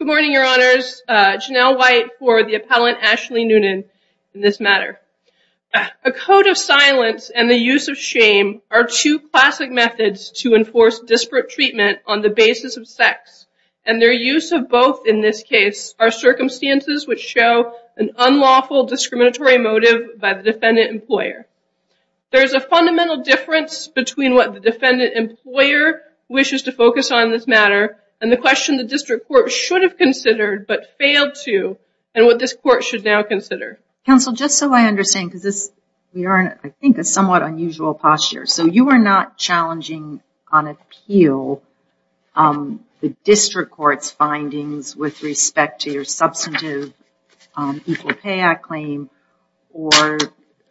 Good morning, your honors. Janelle White for the appellant Ashley Noonan in this matter. A code of silence and the use of shame are two classic methods to enforce disparate treatment on the basis of sex, and their use of both in this case are circumstances which show an unlawful discriminatory motive by the defendant employer. There is a fundamental difference between what the defendant employer wishes to focus on this matter and the question the district court should have considered but failed to and what this court should now consider. Counsel just so I understand because this we are in I think a somewhat unusual posture so you are not challenging on appeal the district court's findings with respect to your substantive Equal Pay Act claim or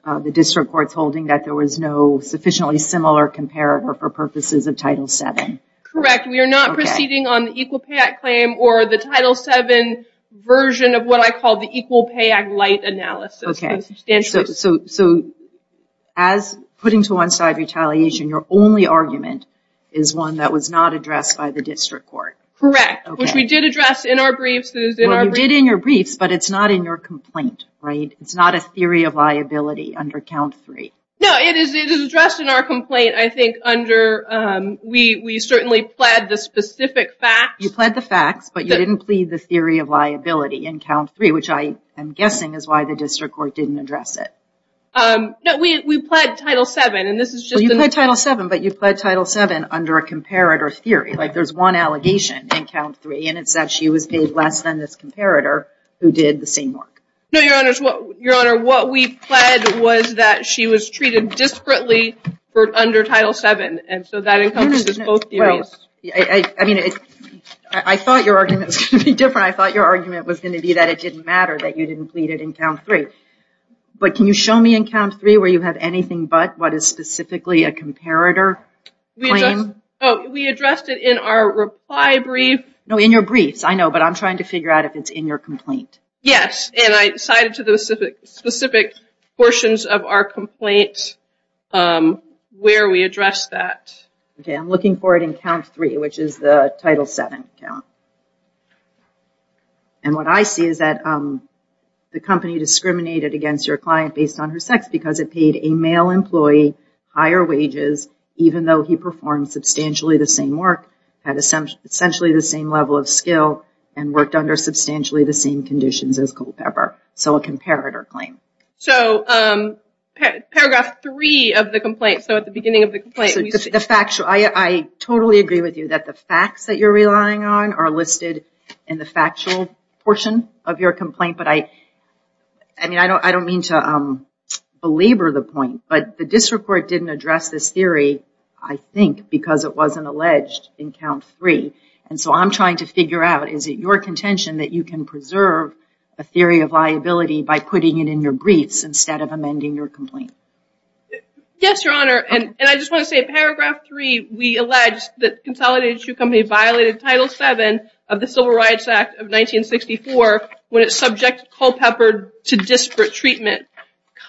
the district court's holding that there was no sufficiently similar comparative or purposes of title 7. Correct we are not proceeding on the Equal Pay Act claim or the title 7 version of what I call the Equal Pay Act light analysis. Okay so as putting to one side retaliation your only argument is one that was not addressed by the district court. Correct which we did address in our briefs. You did in your briefs but it's not in your complaint right it's not a theory of liability under count three. No it is it is addressed in our complaint I think under we we certainly pled the specific facts. You pled the facts but you didn't plead the theory of liability in count three which I am guessing is why the district court didn't address it. No we pled title 7 and this is just. You pled title 7 but you pled title 7 under a comparator theory like there's one allegation in count three and it's that she was paid less than this comparator who did the same work. No your honors what your honor what we pled was that she was treated disparately for under title 7 and so that encompasses both theories. I mean I thought your argument was going to be different I thought your argument was going to be that it didn't matter that you didn't plead it in count three but can you show me in count three where you have anything but what is specifically a comparator claim? Oh we addressed it in our reply brief. No in your briefs I know but I'm trying to figure out if it's in your complaint. Yes and I cited to the specific specific portions of our complaint where we address that. Okay I'm looking for it in count three which is the title 7 count. And what I see is that the company discriminated against your client based on her sex because it paid a male employee higher wages even though he performed substantially the same work had essentially the same level of skill and worked under substantially the same conditions as Culpepper. So a comparator claim. So paragraph 3 of the complaint so at the beginning of the complaint. I totally agree with you that the facts that you're relying on are listed in the factual portion of your complaint but I I mean I don't I don't mean to belabor the point but the district court didn't address this theory I think because it wasn't alleged in count three and so I'm trying to figure out is it your contention that you can preserve a theory of liability by putting it in your briefs instead of amending your complaint. Yes your honor and and I just want to say paragraph 3 we allege that Consolidated Shoe Company violated title 7 of the Civil Rights Act of 1964 when it's subject Culpepper to disparate treatment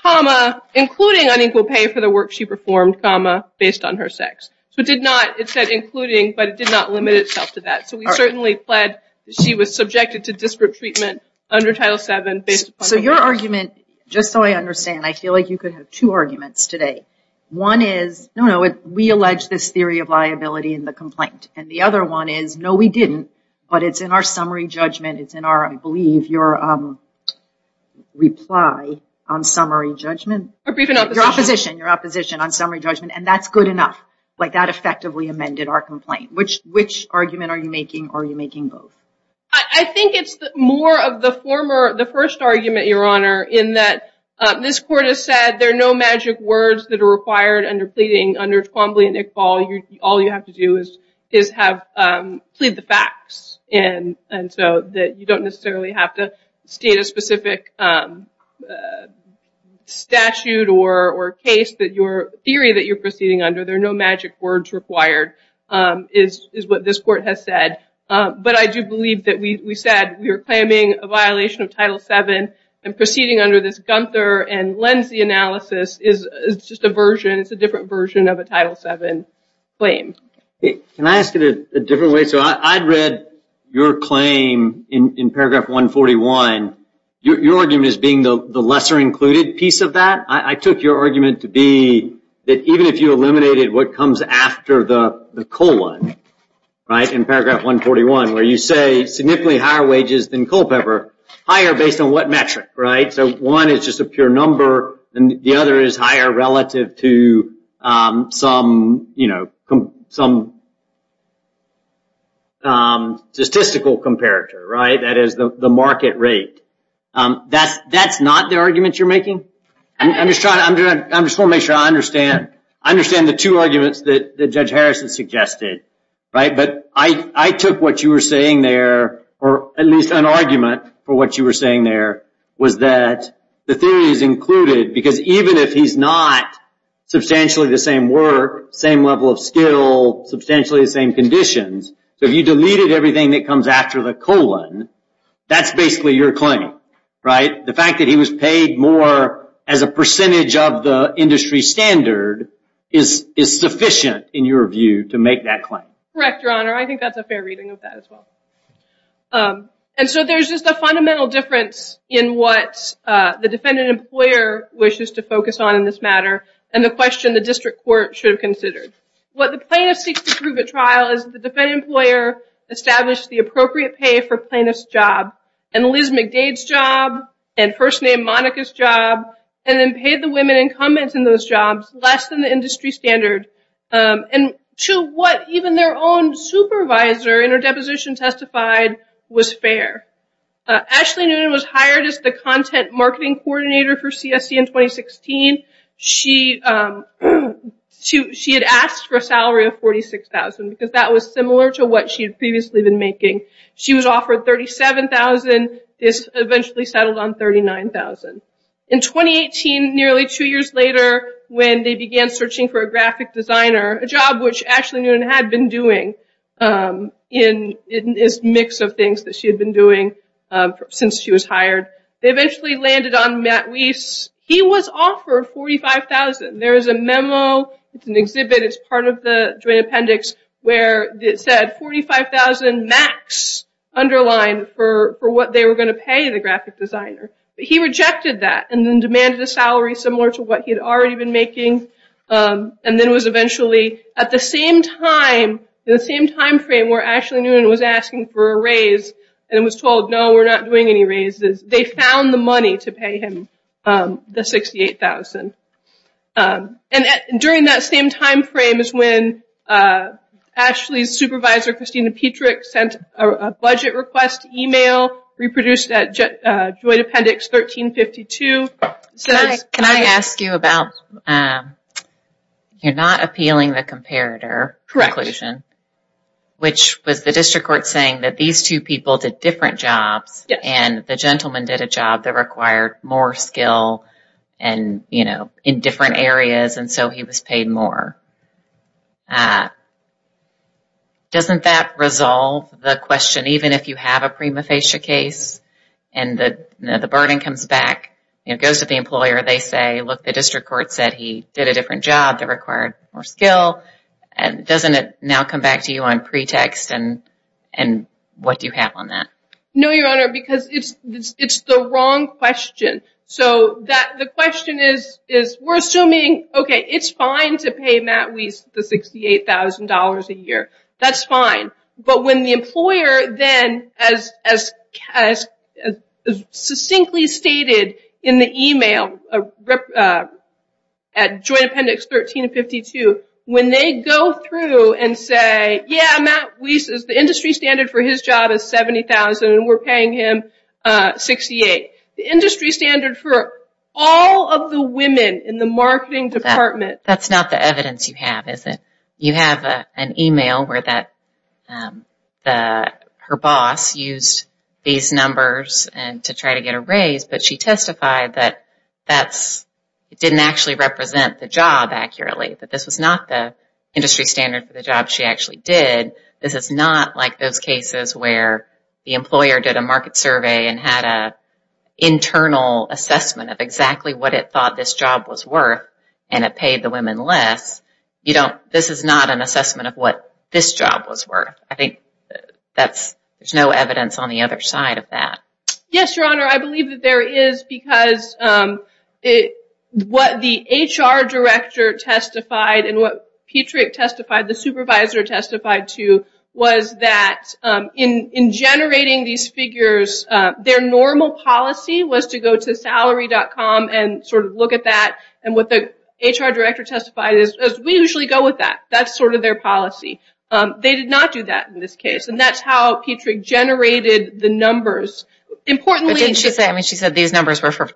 comma including unequal pay for the work she performed comma based on her sex. So it did not it said including but it did not limit itself to that so we certainly pled she was subjected to disparate treatment under title 7. So your argument just so I understand I feel like you could have two arguments today one is no no it we allege this theory of liability in the complaint and the other one is no we didn't but it's in our summary judgment it's in our I believe your reply on summary judgment. Your opposition your opposition on summary judgment and that's good enough like that effectively amended our complaint which which argument are you making are you making both? I think it's more of the former the first argument your honor in that this court has said there are no magic words that are required under pleading under Twombly and Iqbal all you all you have to do is is have plead the facts and and so that you don't necessarily have to state a specific statute or or case that your theory that you're proceeding under there are no magic words required is is what this court has said but I do believe that we said we were claiming a violation of title 7 and proceeding under this Gunther and Lindsay analysis is it's just a version it's a different version of a title 7 claim. Can I ask it a different way so I'd read your claim in paragraph 141 your argument is being the lesser included piece of that I took your argument to be that even if you eliminated what comes after the the colon right in paragraph 141 where you say significantly higher wages than Culpeper higher based on what metric right so one is just a pure number and the other is higher relative to some you know some statistical comparator right that is the market rate that's that's not the argument you're making I'm just trying to make sure I understand I understand the two arguments that the judge Harrison suggested right but I I took what you were saying there or at least an argument for what you were saying there was that the theory is included because even if he's not substantially the same were same level of skill substantially the same conditions so if you deleted everything that comes after the colon that's basically your claim right the fact that he was paid more as a percentage of the industry standard is is sufficient in your view to make that claim correct your honor I think that's a fair reading of that as well and so there's just a fundamental difference in what the defendant employer wishes to focus on in this matter and the question the district court should have considered what the plaintiff seeks to prove at trial is the defendant employer established the appropriate pay for plaintiff's job and Liz McDade's job and first name Monica's job and then paid the women incumbents in those jobs less than the industry standard and to what even their own supervisor in her deposition testified was fair Ashley Newton was hired as the content marketing coordinator for CSE in 2016 she she had asked for a salary of 46,000 because that was similar to what she had previously been making she was offered 37,000 this eventually settled on 39,000 in 2018 nearly two years later when they began searching for a graphic designer a job which actually knew and had been doing in this mix of things that she had been doing since she was hired they eventually landed on Matt Weiss he was offered 45,000 there is a memo it's an exhibit as part of the appendix where it said 45,000 max underlined for what they were going to pay the graphic designer he rejected that and then demanded a salary similar to what he had already been making and then was eventually at the same time in the same time frame where Ashley Newton was asking for a raise and was told no we're not doing any raises they found the money to pay him the 68,000 and during that same time frame is when Ashley's supervisor Christina Petrick sent a budget request email reproduced at Joint Appendix 1352 can I ask you about you're not appealing the comparator correction which was the district court saying that these two people did different jobs and the gentleman did a job that required more skill and you know in different areas and so he was paid more doesn't that resolve the question even if you have a prima facie case and that the burden comes back it goes to the employer they say look the district court said he did a different job that required more skill and doesn't it now come back to you on pretext and and what do you have on that no your honor because it's it's the wrong question so that the question is we're assuming okay it's fine to pay Matt Weiss the $68,000 a year that's fine but when the employer then as succinctly stated in the email at Joint Appendix 1352 when they go through and say yeah Matt Weiss is the industry standard for his job is 70,000 and we're paying him 68 the industry standard for all of the women in the marketing department that's not the evidence you have is it you have an email where that the her boss used these numbers and to try to get a raise but she testified that that's it didn't actually represent the job accurately that this was not the industry standard for the job she actually did this is not like those cases where the employer did a market and had a internal assessment of exactly what it thought this job was worth and it paid the women less you don't this is not an assessment of what this job was worth I think that's there's no evidence on the other side of that yes your honor I believe that there is because it what the HR director testified and what Petriek testified the supervisor testified to was that in in generating these figures their normal policy was to go to salary.com and sort of look at that and what the HR director testified is as we usually go with that that's sort of their policy they did not do that in this case and that's how Petriek generated the numbers importantly didn't you say I mean she said these numbers were for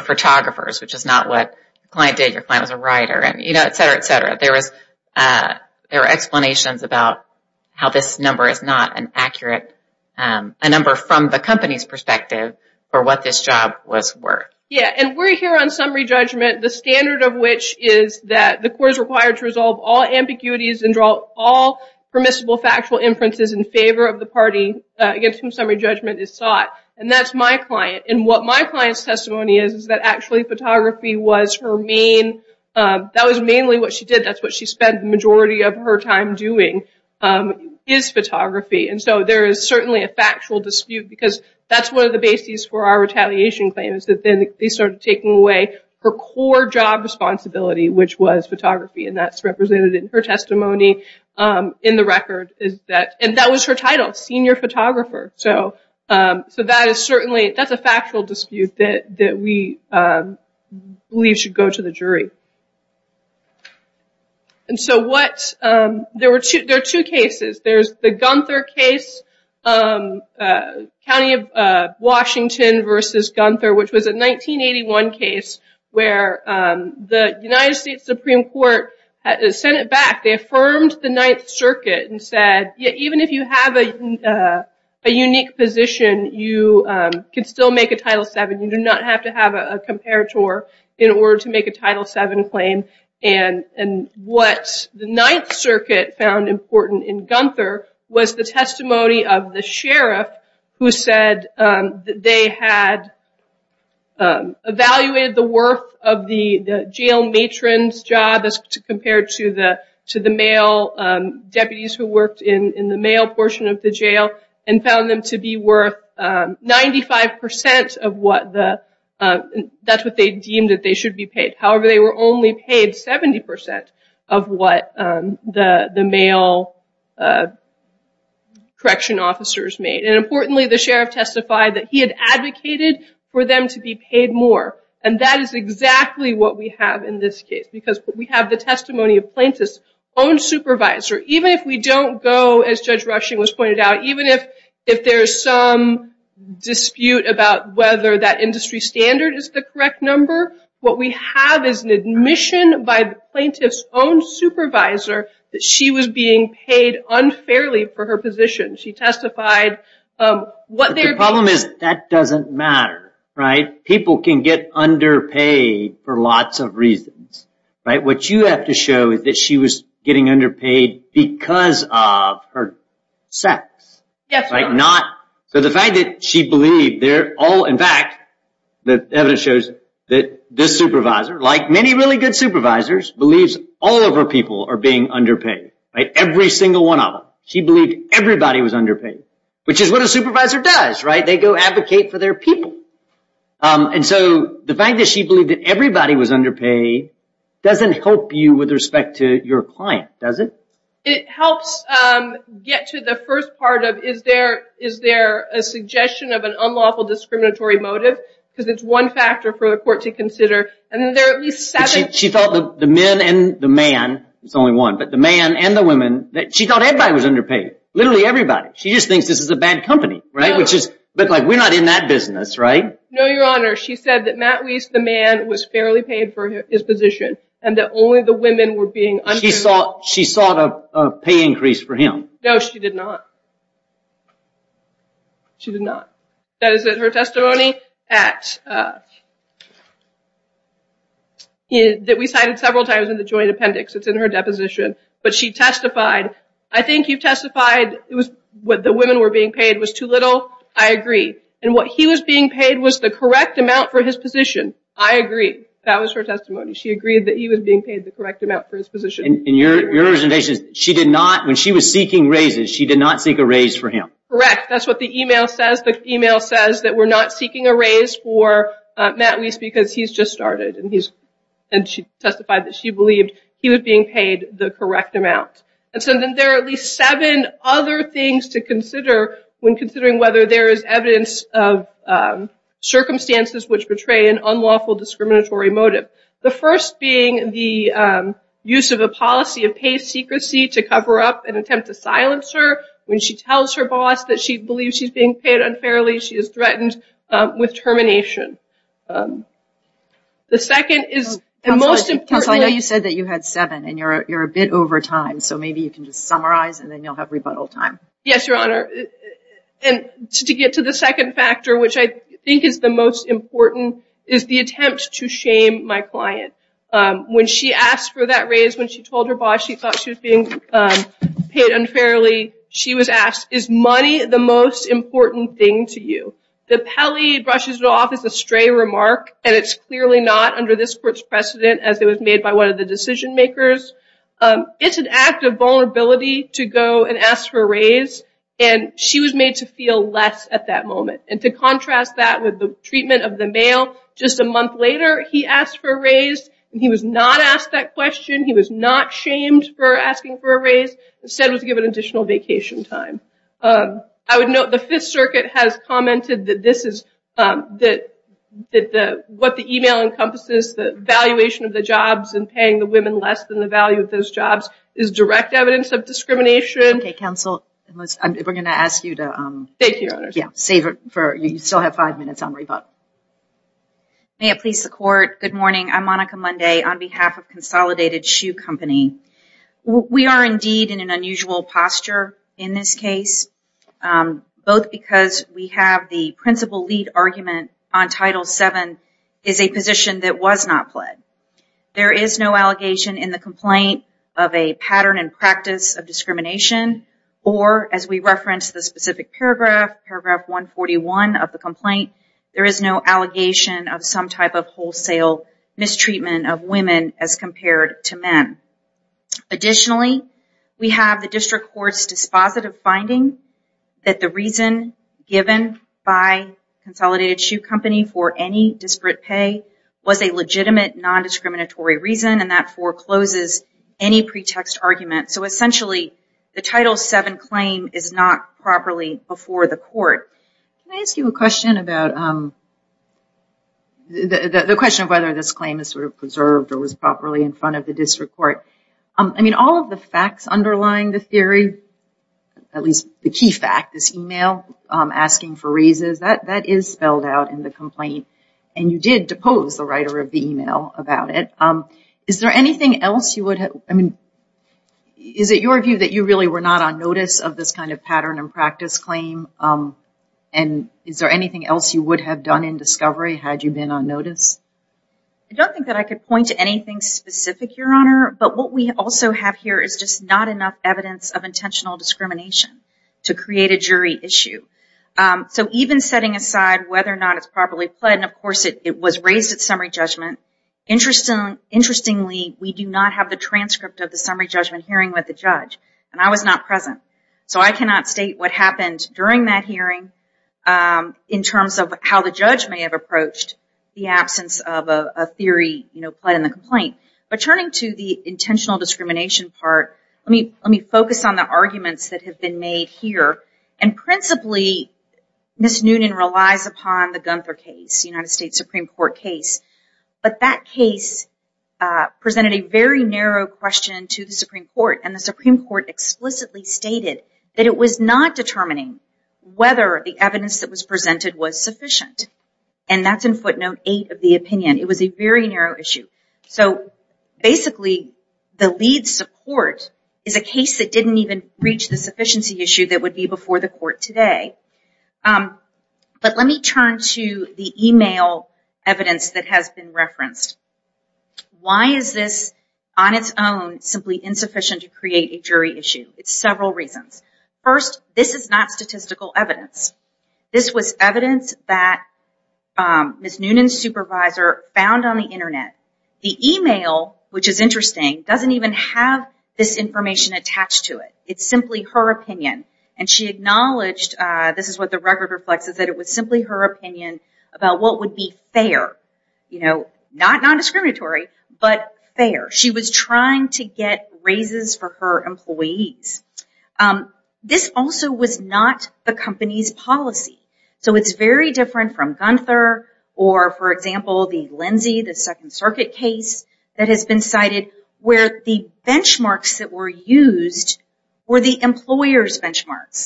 photographers which is not what client did your client was a writer and you know etc etc there was there are explanations about how this number is not an accurate a number from the company's perspective or what this job was worth yeah and we're here on summary judgment the standard of which is that the court is required to resolve all ambiguities and draw all permissible factual inferences in favor of the party against whom summary judgment is sought and that's my client and what my client's testimony is is that actually photography was her main that was mainly what she did that's what she spent majority of her time doing is photography and so there is certainly a factual dispute because that's one of the bases for our retaliation claims that then they started taking away her core job responsibility which was photography and that's represented in her testimony in the record is that and that was her title senior photographer so so that is certainly that's a factual dispute that that we believe should go to the jury and so what there were two there are two cases there's the Gunther case County of Washington versus Gunther which was a 1981 case where the United States Supreme Court has sent it back they affirmed the Ninth Circuit and said even if you have a unique position you can still make a title seven you do not have to have a comparator in order to make a title seven claim and and what the Ninth Circuit found important in Gunther was the testimony of the sheriff who said that they had evaluated the worth of the jail matrons job as compared to the to the male deputies who 95% of what the that's what they deemed that they should be paid however they were only paid 70% of what the the male correction officers made and importantly the sheriff testified that he had advocated for them to be paid more and that is exactly what we have in this case because we have the testimony of plaintiffs own supervisor even if we don't go as judge rushing was pointed out even if if there's some dispute about whether that industry standard is the correct number what we have is an admission by plaintiffs own supervisor that she was being paid unfairly for her position she testified what their problem is that doesn't matter right people can get underpaid for lots of reasons right what you have to show that she was getting underpaid because of her not so the fact that she believed they're all in fact the evidence shows that this supervisor like many really good supervisors believes all of our people are being underpaid every single one of them she believed everybody was underpaid which is what a supervisor does right they go advocate for their people and so the fact that she believed that everybody was underpaid doesn't help you with respect to your client does it it helps get to the first part of is there is there a suggestion of an unlawful discriminatory motive because it's one factor for the court to consider and there at least she thought the men and the man it's only one but the man and the women that she thought everybody was underpaid literally everybody she just thinks this is a bad company right which is but like we're not in that business right no your honor she said that Matt Weiss the man was fairly paid for his position and that only the women were being on he saw she sought a pay increase for him no she did not she did not that is that her testimony at that we cited several times in the joint appendix it's in her deposition but she testified I think you've testified it was what the women were being paid was too little I agree and what he was being paid was the correct amount for his position I agree that was her testimony she agreed that he was being paid the correct amount for his position in your originations she did not when she was seeking raises she did not seek a raise for him correct that's what the email says the email says that we're not seeking a raise for Matt Weiss because he's just started and he's and she testified that she believed he was being paid the correct amount and there are at least seven other things to consider when considering whether there is evidence of circumstances which portray an unlawful discriminatory motive the first being the use of a policy of pay secrecy to cover up an attempt to silence her when she tells her boss that she believes she's being paid unfairly she is threatened with termination the second is the most important I know you said that you had seven and you're a bit over time so maybe you can just summarize and then you'll have rebuttal time yes your honor and to get to the second factor which I think is the most important is the attempt to shame my client when she asked for that raise when she told her boss she thought she was being paid unfairly she was asked is money the most important thing to you the Peli brushes it off as a stray remark and it's clearly not under this court's precedent as it was made by one of the decision makers it's an act of vulnerability to go and ask for a raise and she was made to feel less at that moment and to contrast that with the treatment of the mail just a month later he asked for a raise and he was not asked that question he was not shamed for asking for a raise instead was given additional vacation time I would note the Fifth Circuit has commented that this is that the what the email encompasses the valuation of the jobs and paying the women less than the value of those jobs is direct evidence of discrimination council and we're gonna ask you to thank you yeah save it for you still have five minutes on rebuttal may it please the court good morning I'm Monica Monday on behalf of consolidated shoe company we are indeed in an unusual posture in this case both because we have the principal lead argument on title 7 is a position that was not played there is no allegation in the complaint of a pattern and practice of discrimination or as we reference the specific paragraph paragraph 141 of the complaint there is no allegation of some type of wholesale mistreatment of women as compared to men additionally we have the district court's dispositive finding that the reason given by consolidated shoe company for any disparate pay was a legitimate non-discriminatory reason and that forecloses any pretext argument so essentially the title 7 claim is not properly before the court I ask you a question about the question of whether this claim is sort of preserved or was properly in front of the district court I mean all of the facts underlying the fact this email asking for reasons that that is spelled out in the complaint and you did depose the writer of the email about it is there anything else you would have I mean is it your view that you really were not on notice of this kind of pattern and practice claim and is there anything else you would have done in discovery had you been on notice I don't think that I could point to anything specific your honor but what we also have here is just not enough evidence of intentional discrimination to create a jury issue so even setting aside whether or not it's properly played and of course it was raised at summary judgment interesting interestingly we do not have the transcript of the summary judgment hearing with the judge and I was not present so I cannot state what happened during that hearing in terms of how the judge may have approached the absence of a theory you know put in the complaint but turning to the intentional discrimination part let me let me focus on the arguments that have been made here and principally miss Noonan relies upon the Gunther case United States Supreme Court case but that case presented a very narrow question to the Supreme Court and the Supreme Court explicitly stated that it was not determining whether the evidence that was presented was sufficient and that's in footnote eight of the opinion it was a very narrow issue so basically the lead support is a case that didn't even reach the sufficiency issue that would be before the court today but let me turn to the email evidence that has been referenced why is this on its own simply insufficient to create a jury issue it's several reasons first this is not on the Internet the email which is interesting doesn't even have this information attached to it it's simply her opinion and she acknowledged this is what the record reflects is that it was simply her opinion about what would be fair you know not non-discriminatory but fair she was trying to get raises for her employees this also was not the company's policy so it's very different from Gunther or for example the Lindsay the Second Circuit case that has been cited where the benchmarks that were used were the employers benchmarks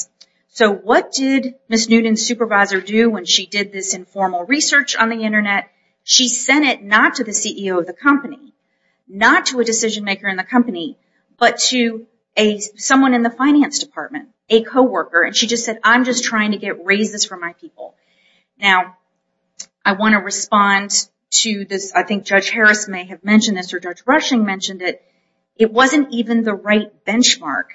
so what did miss Newton supervisor do when she did this informal research on the Internet she sent it not to the CEO of the company not to a decision-maker in the company but to a someone in the finance department a co-worker and she just said I'm just trying to get raises for my people now I want to respond to this I think judge Harris may have mentioned this or judge Rushing mentioned it it wasn't even the right benchmark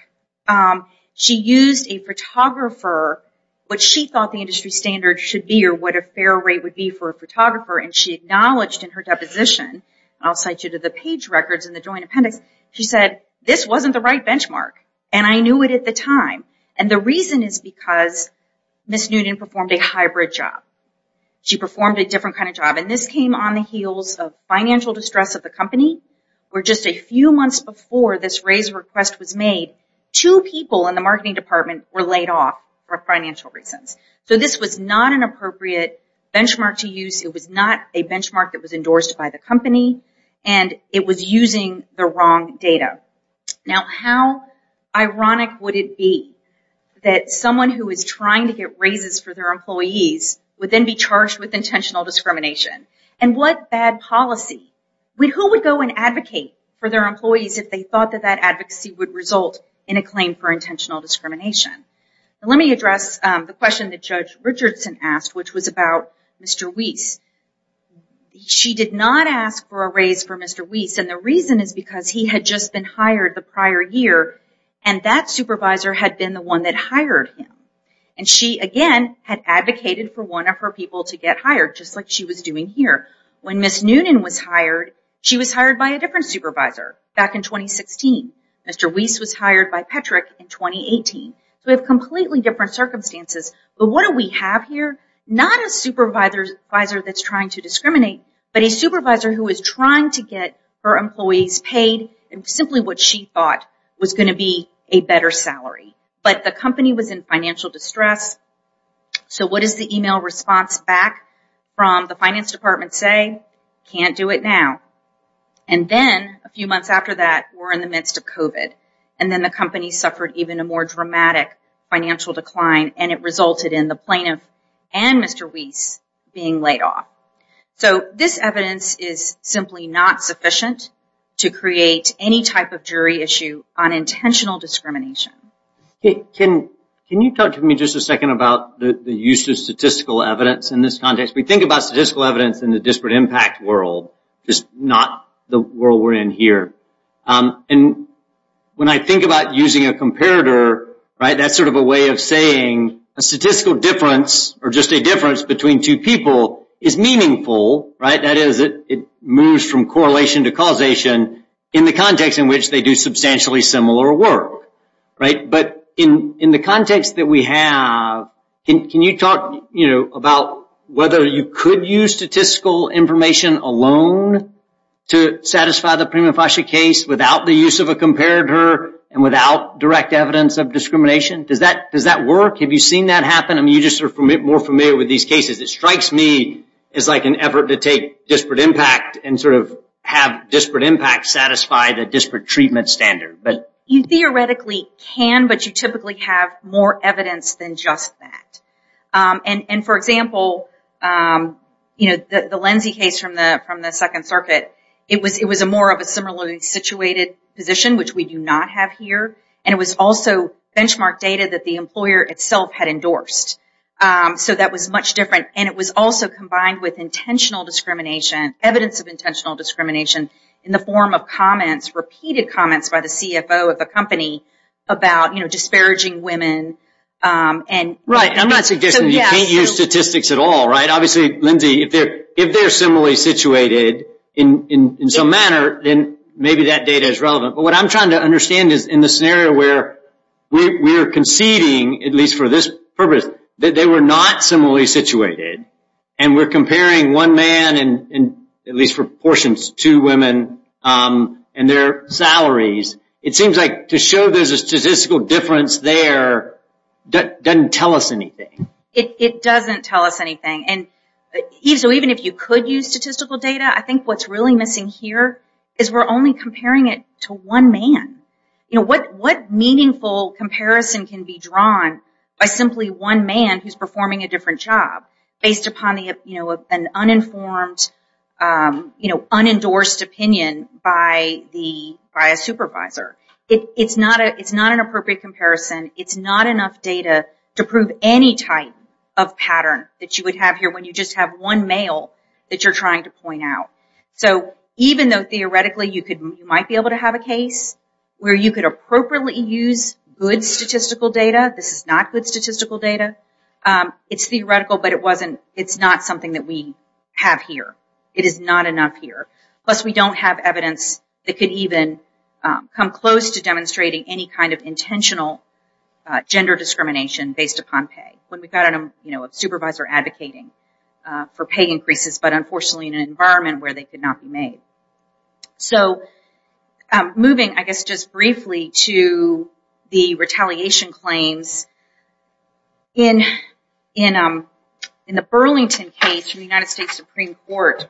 she used a photographer what she thought the industry standard should be or what a fair rate would be for a photographer and she acknowledged in her deposition I'll cite you to the page records in the joint appendix she said this wasn't the right benchmark and I think the reason is because Miss Newton performed a hybrid job she performed a different kind of job and this came on the heels of financial distress of the company we're just a few months before this raise request was made two people in the marketing department were laid off for financial reasons so this was not an appropriate benchmark to use it was not a benchmark that was endorsed by the company and it was using the wrong data now how ironic would it be that someone who is trying to get raises for their employees would then be charged with intentional discrimination and what bad policy we who would go and advocate for their employees if they thought that that advocacy would result in a claim for intentional discrimination let me address the question that judge Richardson asked which was about mr. Weiss she did not ask for a raise for mr. Weiss and the reason is because he had just been hired the prior year and that supervisor had been the one that hired him and she again had advocated for one of her people to get hired just like she was doing here when Miss Noonan was hired she was hired by a different supervisor back in 2016 mr. Weiss was hired by Patrick in 2018 so we have completely different circumstances but what do we have here not a supervisor's advisor that's trying to discriminate but a supervisor who is trying to get her employees paid and better salary but the company was in financial distress so what is the email response back from the finance department say can't do it now and then a few months after that we're in the midst of kovat and then the company suffered even a more dramatic financial decline and it resulted in the plaintiff and mr. Weiss being laid off so this evidence is simply not sufficient to can you talk to me just a second about the use of statistical evidence in this context we think about statistical evidence in the disparate impact world just not the world we're in here and when I think about using a comparator right that's sort of a way of saying a statistical difference or just a difference between two people is meaningful right that is it it moves from correlation to causation in the context in which they do substantially similar work right but in in the context that we have in can you talk you know about whether you could use statistical information alone to satisfy the prima facie case without the use of a comparator and without direct evidence of discrimination does that does that work have you seen that happen I mean you just are from it more familiar with these cases it strikes me it's like an effort to take disparate impact and sort of have disparate impact satisfy the disparate treatment standard but you theoretically can but you typically have more evidence than just that and and for example you know the the Lindsay case from the from the Second Circuit it was it was a more of a similarly situated position which we do not have here and it was also benchmark data that the employer itself had endorsed so that was much different and it was also combined with intentional discrimination evidence of intentional discrimination in the form of comments repeated comments by the CFO of the company about you know disparaging women and right I'm not suggesting you can't use statistics at all right obviously Lindsay if they're if they're similarly situated in in some manner then maybe that data is relevant but what I'm trying to understand is in the scenario where we're conceding at least for this purpose that they were not similarly situated and we're comparing one man and at least for two women and their salaries it seems like to show there's a statistical difference there that doesn't tell us anything it doesn't tell us anything and so even if you could use statistical data I think what's really missing here is we're only comparing it to one man you know what what meaningful comparison can be drawn by simply one man who's performing a different job based upon the you know an uninformed you know unendorsed opinion by the by a supervisor it's not a it's not an appropriate comparison it's not enough data to prove any type of pattern that you would have here when you just have one male that you're trying to point out so even though theoretically you could might be able to have a case where you could appropriately use good statistical data this is not good statistical data it's theoretical but it wasn't it's not something that we have here it is not enough here plus we don't have evidence that could even come close to demonstrating any kind of intentional gender discrimination based upon pay when we've got a you know a supervisor advocating for pay increases but unfortunately in an environment where they could not be made so moving I guess just briefly to the retaliation claims in in in the Burlington case from the United States Supreme Court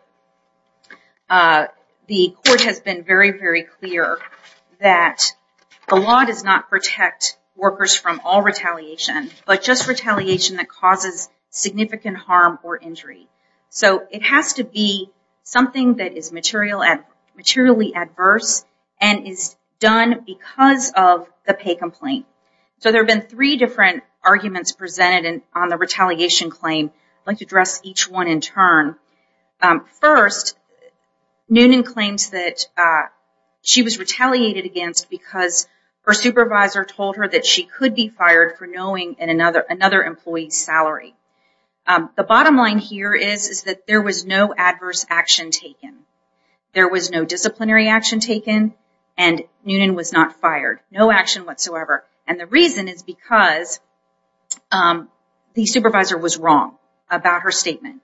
the court has been very very clear that the law does not protect workers from all retaliation but just retaliation that causes significant harm or injury so it has to be something that is material and materially adverse and is done because of the pay complaint so there have been three different arguments presented and on the retaliation claim I'd like to address each one in turn first Noonan claims that she was retaliated against because her supervisor told her that she could be fired for knowing in another another employee's salary the bottom line here is is that there was no adverse action taken there was no action whatsoever and the reason is because the supervisor was wrong about her statement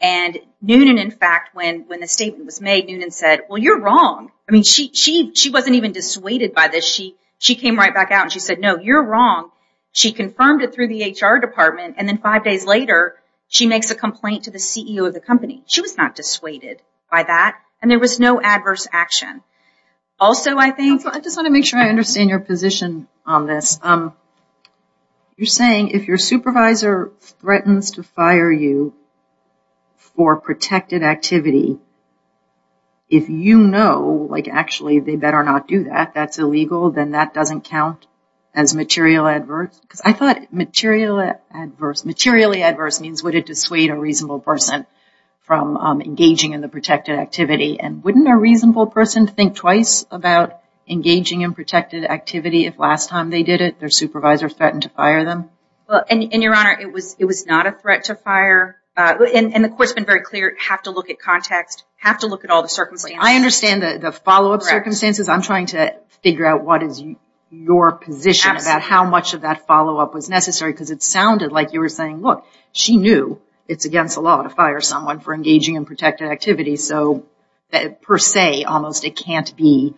and Noonan in fact when when the statement was made Noonan said well you're wrong I mean she she wasn't even dissuaded by this she she came right back out and she said no you're wrong she confirmed it through the HR department and then five days later she makes a complaint to the CEO of the company she was not dissuaded by that and there was no adverse action also I just want to make sure I understand your position on this um you're saying if your supervisor threatens to fire you for protected activity if you know like actually they better not do that that's illegal then that doesn't count as material adverse because I thought material adverse materially adverse means would it dissuade a reasonable person from engaging in the protected activity and wouldn't a reasonable person think twice about engaging in protected activity if last time they did it their supervisors threatened to fire them well and your honor it was it was not a threat to fire and the courts been very clear have to look at context have to look at all the circumstances I understand that the follow-up circumstances I'm trying to figure out what is your position about how much of that follow-up was necessary because it sounded like you were saying look she knew it's against the law to fire someone for engaging in protected activity so that per se almost it can't be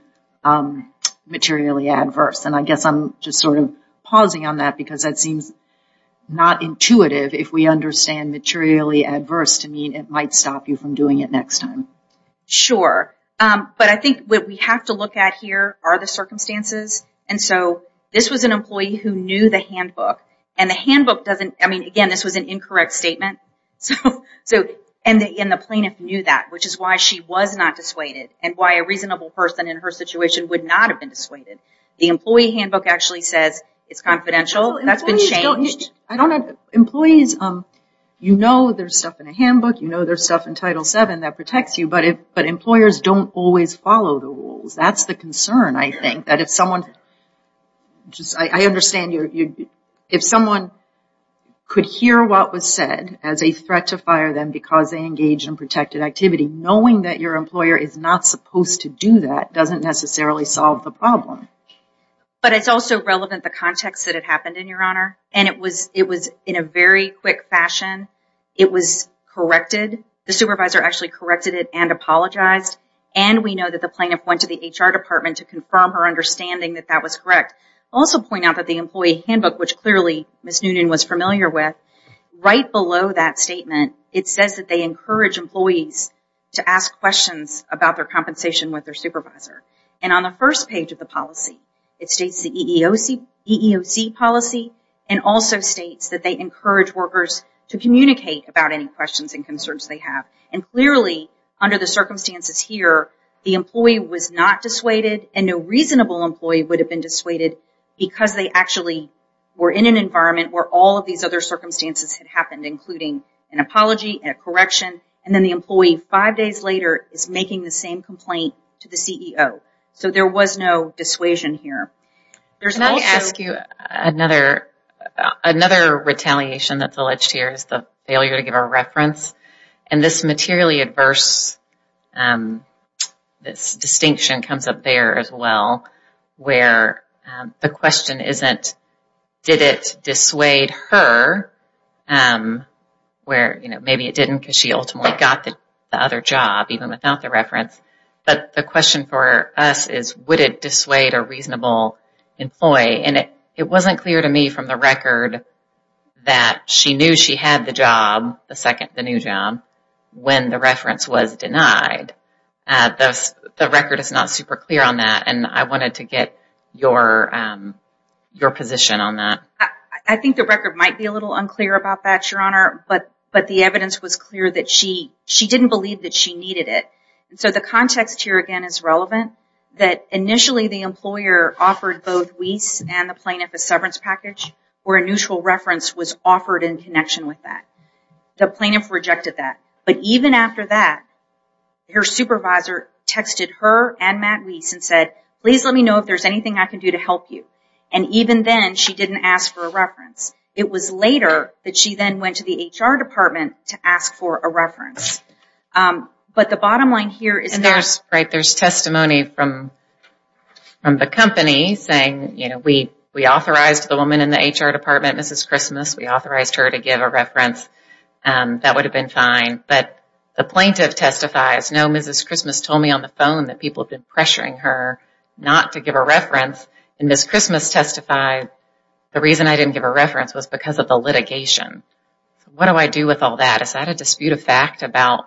materially adverse and I guess I'm just sort of pausing on that because that seems not intuitive if we understand materially adverse to mean it might stop you from doing it next time sure but I think what we have to look at here are the circumstances and so this was an employee who knew the handbook and the handbook doesn't I mean again this was an incorrect statement so so and in the plaintiff knew that which is why she was not dissuaded and why a reasonable person in her situation would not have been dissuaded the employee handbook actually says it's confidential that's been changed I don't have employees um you know there's stuff in a handbook you know there's stuff in title seven that protects you but if but employers don't always follow the rules that's the concern I think that if someone just I understand you if someone could hear what was said as a threat to fire them because they engage in protected activity knowing that your employer is not supposed to do that doesn't necessarily solve the problem but it's also relevant the context that it happened in your honor and it was it was in a very quick fashion it was corrected the supervisor actually corrected it and apologized and we know that the plaintiff went to the HR department to confirm her understanding that that was correct also point out that the employee handbook which clearly Miss Noonan was familiar with right below that statement it says that they encourage employees to ask questions about their compensation with their supervisor and on the first page of the policy it states the EEOC EEOC policy and also states that they encourage workers to communicate about any questions and concerns they have and clearly under the circumstances here the employee was not dissuaded and no reasonable employee would have been dissuaded because they actually were in an environment where all of these other circumstances had happened including an apology and a correction and then the employee five days later is making the same complaint to the CEO so there was no dissuasion here there's not ask you another another retaliation that's alleged here is the failure to give a reference and this materially adverse this distinction comes up there as well where the question isn't did it dissuade her where you know maybe it didn't because she ultimately got the other job even without the reference but the question for us is would it dissuade a reasonable employee and it it wasn't clear to me from the record that she knew she had the job the second the new job when the reference was denied at this the record is not super clear on that and I wanted to get your your position on that I think the record might be a little unclear about that your honor but but the evidence was clear that she she didn't believe that she needed it and so the context here again is relevant that initially the employer offered both wease and the plaintiff a severance package or a reference was offered in connection with that the plaintiff rejected that but even after that her supervisor texted her and Matt Weese and said please let me know if there's anything I can do to help you and even then she didn't ask for a reference it was later that she then went to the HR department to ask for a reference but the bottom line here is there's right there's testimony from from the company saying you know we we authorized the woman in the HR department mrs. Christmas we authorized her to give a reference and that would have been fine but the plaintiff testifies no mrs. Christmas told me on the phone that people have been pressuring her not to give a reference and miss Christmas testified the reason I didn't give a reference was because of the litigation what do I do with all that is that a dispute of fact about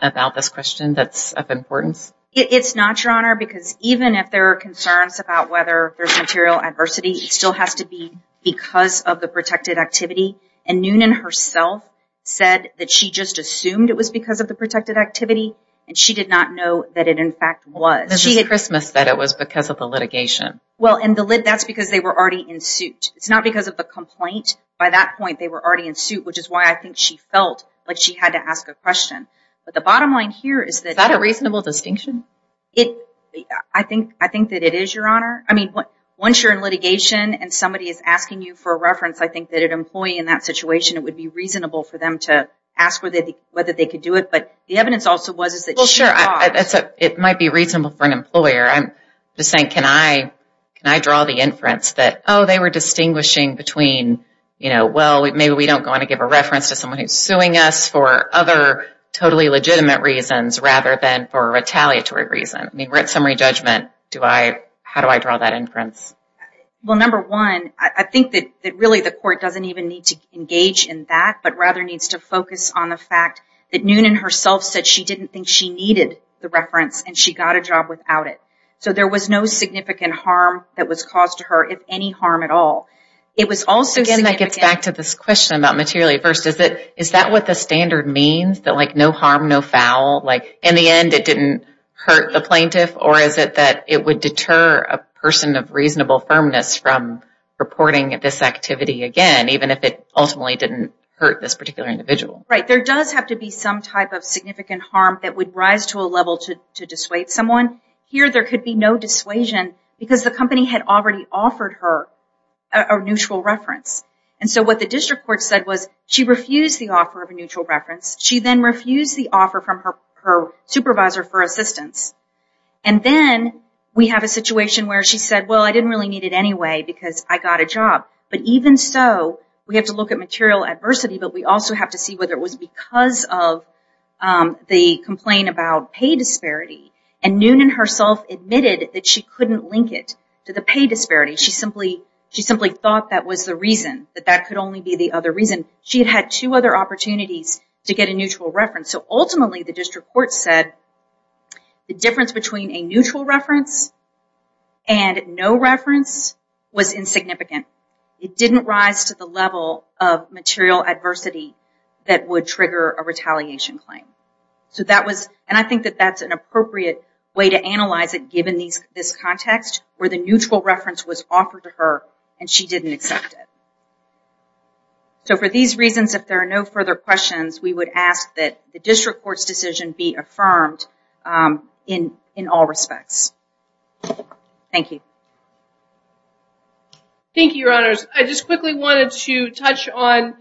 about this question that's of importance it's not your honor because even if there are concerns about whether there's material adversity it still has to be because of the protected activity and noon and herself said that she just assumed it was because of the protected activity and she did not know that it in fact was she had Christmas that it was because of the litigation well and the lid that's because they were already in suit it's not because of the complaint by that point they were already in suit which is why I think she felt like she had to ask a question but the bottom line here is that a reasonable distinction it I think I think that it is your honor I mean what once you're in is asking you for a reference I think that an employee in that situation it would be reasonable for them to ask where they whether they could do it but the evidence also was is that sure I that's a it might be reasonable for an employer I'm just saying can I can I draw the inference that oh they were distinguishing between you know well maybe we don't want to give a reference to someone who's suing us for other totally legitimate reasons rather than for a retaliatory reason I mean we're at summary judgment do I how do I draw that inference well number one I think that really the court doesn't even need to engage in that but rather needs to focus on the fact that noon and herself said she didn't think she needed the reference and she got a job without it so there was no significant harm that was caused to her if any harm at all it was also again that gets back to this question about materially first is it is that what the standard means that like no harm no foul like in the end it hurt the plaintiff or is it that it would deter a person of reasonable firmness from reporting at this activity again even if it ultimately didn't hurt this particular individual right there does have to be some type of significant harm that would rise to a level to dissuade someone here there could be no dissuasion because the company had already offered her a neutral reference and so what the district court said was she refused the offer of a neutral reference she then refused the offer from her supervisor for assistance and then we have a situation where she said well I didn't really need it anyway because I got a job but even so we have to look at material adversity but we also have to see whether it was because of the complaint about pay disparity and noon and herself admitted that she couldn't link it to the pay disparity she simply she simply thought that was the reason that that could only be the other reason she had had two other opportunities to get a neutral reference so ultimately the district court said the difference between a neutral reference and no reference was insignificant it didn't rise to the level of material adversity that would trigger a retaliation claim so that was and I think that that's an appropriate way to analyze it given these this context where the neutral reference was offered to her and she didn't accept it so for these reasons if there are no further questions we would ask that the district court's decision be affirmed in in all respects thank you thank you your honors I just quickly wanted to touch on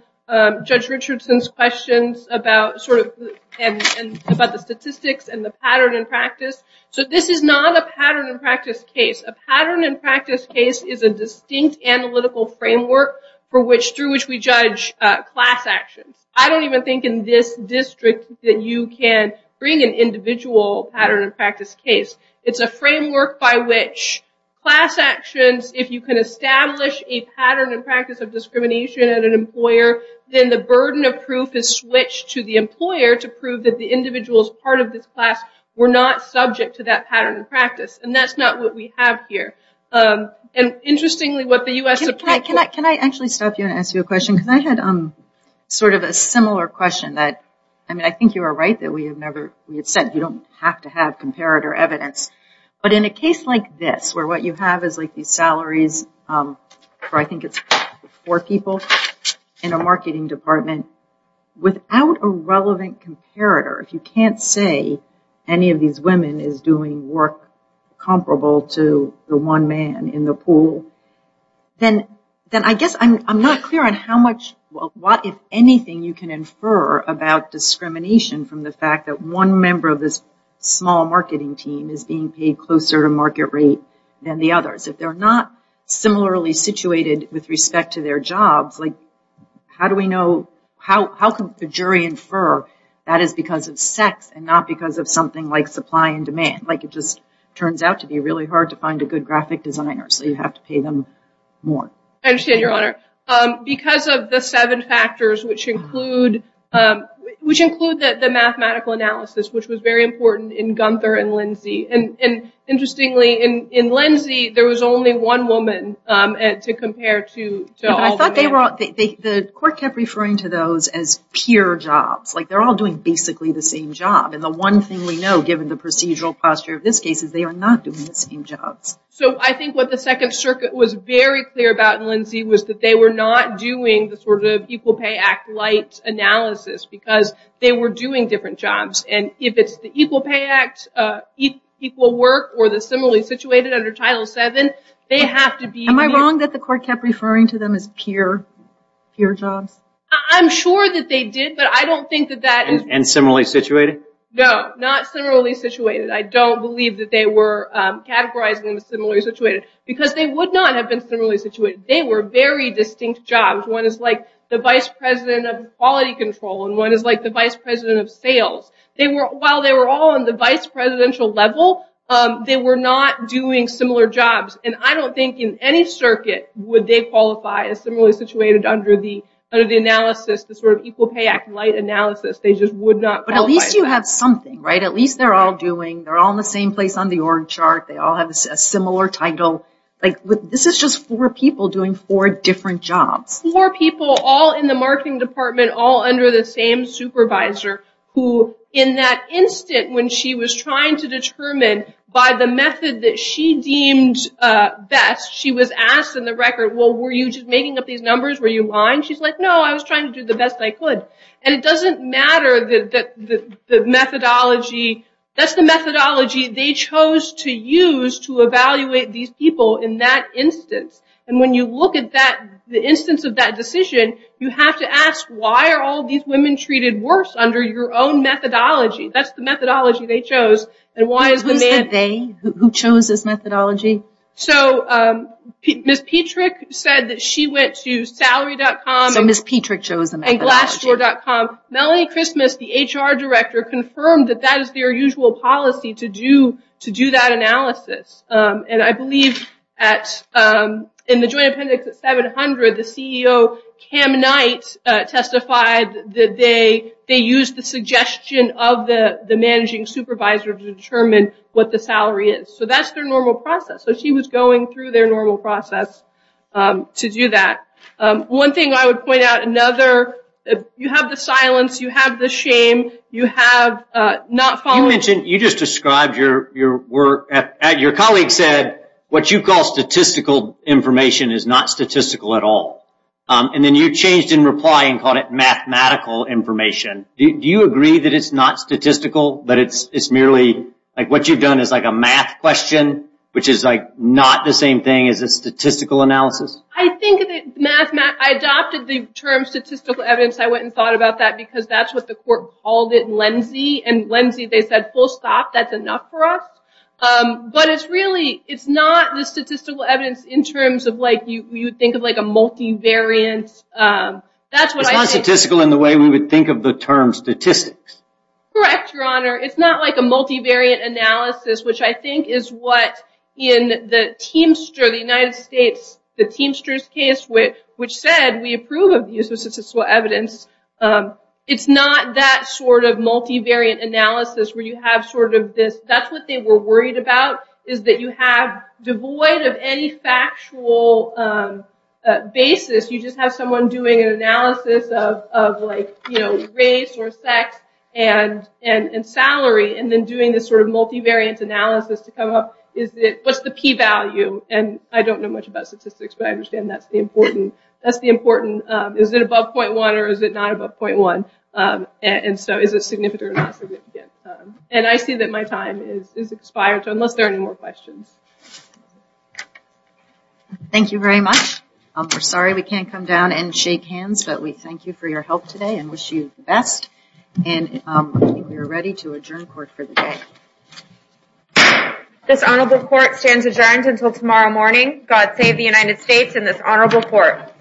judge Richardson's questions about sort of and about the statistics and the pattern in practice so this is not a pattern in practice case a pattern in practice case is a distinct analytical framework for which through which we judge class actions I don't even think in this district that you can bring an individual pattern and practice case it's a framework by which class actions if you can establish a pattern and practice of discrimination at an employer then the burden of proof is switched to the employer to prove that the individuals part of this class were not subject to that pattern of practice and that's not what we have here and interestingly what the u.s. can I can I can I actually stop you and ask you a question because I had um sort of a similar question that I mean I think you are right that we have never said you don't have to have comparator evidence but in a case like this where what you have is like these salaries or I think it's four people in a marketing department without a relevant comparator if you can't say any of these women is doing work comparable to the one man in the pool then then I guess I'm not clear on how much well what if anything you can infer about discrimination from the fact that one member of this small marketing team is being paid closer to market rate than the others if they're not similarly situated with respect to their jobs like how do we know how how can the jury infer that is because of sex and not because of something like supply and demand like it just turns out to be really hard to find a good graphic designer so you have to pay them more I understand your honor because of the seven factors which include which include that the mathematical analysis which was very important in Gunther and Lindsay and and interestingly in in Lindsay there was only one woman and to compare to I thought they were all the court kept referring to those as peer jobs like they're all doing basically the same job and the one thing we know given the procedural posture of this case is they are not doing the same jobs so I think what the Second Circuit was very clear about Lindsay was that they were not doing the sort of Equal Pay Act light analysis because they were doing different jobs and if it's the Equal Pay Act equal work or the similarly situated under Title 7 they have to be am I wrong that the court kept referring to them as peer peer jobs I'm sure that they did but I don't think that that is similarly situated no not similarly situated I don't believe that they were categorizing them as similarly situated because they would not have been similarly situated they were very distinct jobs one is like the vice president of quality control and one is like the vice president of sales they were while they were all in the vice presidential level they were not doing similar jobs and I don't think in any circuit would they qualify as similarly situated under the under the analysis the sort of Equal Pay Act light analysis they just would not but at least you have something right at least they're all doing they're all in the same place on the org chart they all have a similar title like this is just four people doing four different jobs more people all in the marketing department all under the same supervisor who in that instant when she was trying to determine by the method that she deemed best she was asked in the record well were you just making up these numbers were you fine she's like no I was trying to do the best I could and it doesn't matter that the methodology that's the methodology they chose to use to evaluate these people in that instance and when you look at that the instance of that decision you have to ask why are all these women treated worse under your own methodology that's the methodology they chose and why is it they who chose this methodology so Ms. Petrick said that she went to salary.com and glassdoor.com Melanie Christmas the HR director confirmed that that is their usual policy to do to do that analysis and I believe at in the Joint Appendix at 700 the CEO Kam Knight testified that they they use the suggestion of the the managing supervisor to determine what the salary is so that's their normal process so she was going through their normal process to do that one thing I would point out another you have the silence you have the shame you have not following you just described your work at your colleague said what you call statistical information is not statistical at all and then you changed in reply and called it mathematical information do you agree that it's not statistical but it's it's merely like what you've done is like a math question which is like not the same thing as a statistical analysis I think math math I adopted the term statistical evidence I went and thought about that because that's what the court called it Lindsay and Lindsay they said full stop that's enough for us but it's really it's not the statistical evidence in terms of like you think of like a multivariant that's what I statistical in the way we would think of the term statistics correct your honor it's not like a multivariant analysis which I think is what in the teamster the United States the teamsters case with which said we approve of use of statistical evidence it's not that sort of multivariant analysis where you have sort of this that's what they were worried about is that you have devoid of any factual basis you just have someone doing an analysis of like you know race or sex and and and salary and then doing this sort of multivariant analysis to come up is it what's the p-value and I don't know much about statistics but I understand that's the important that's the important is it above point one or is it not above point one and so is it significant and I see that my time is expired so unless there are any more questions thank you very much I'm sorry we can't come down and shake hands but we thank you for your help today and wish you the best and we're ready to adjourn court for the day this honorable court stands adjourned until tomorrow morning God save the United States in this honorable court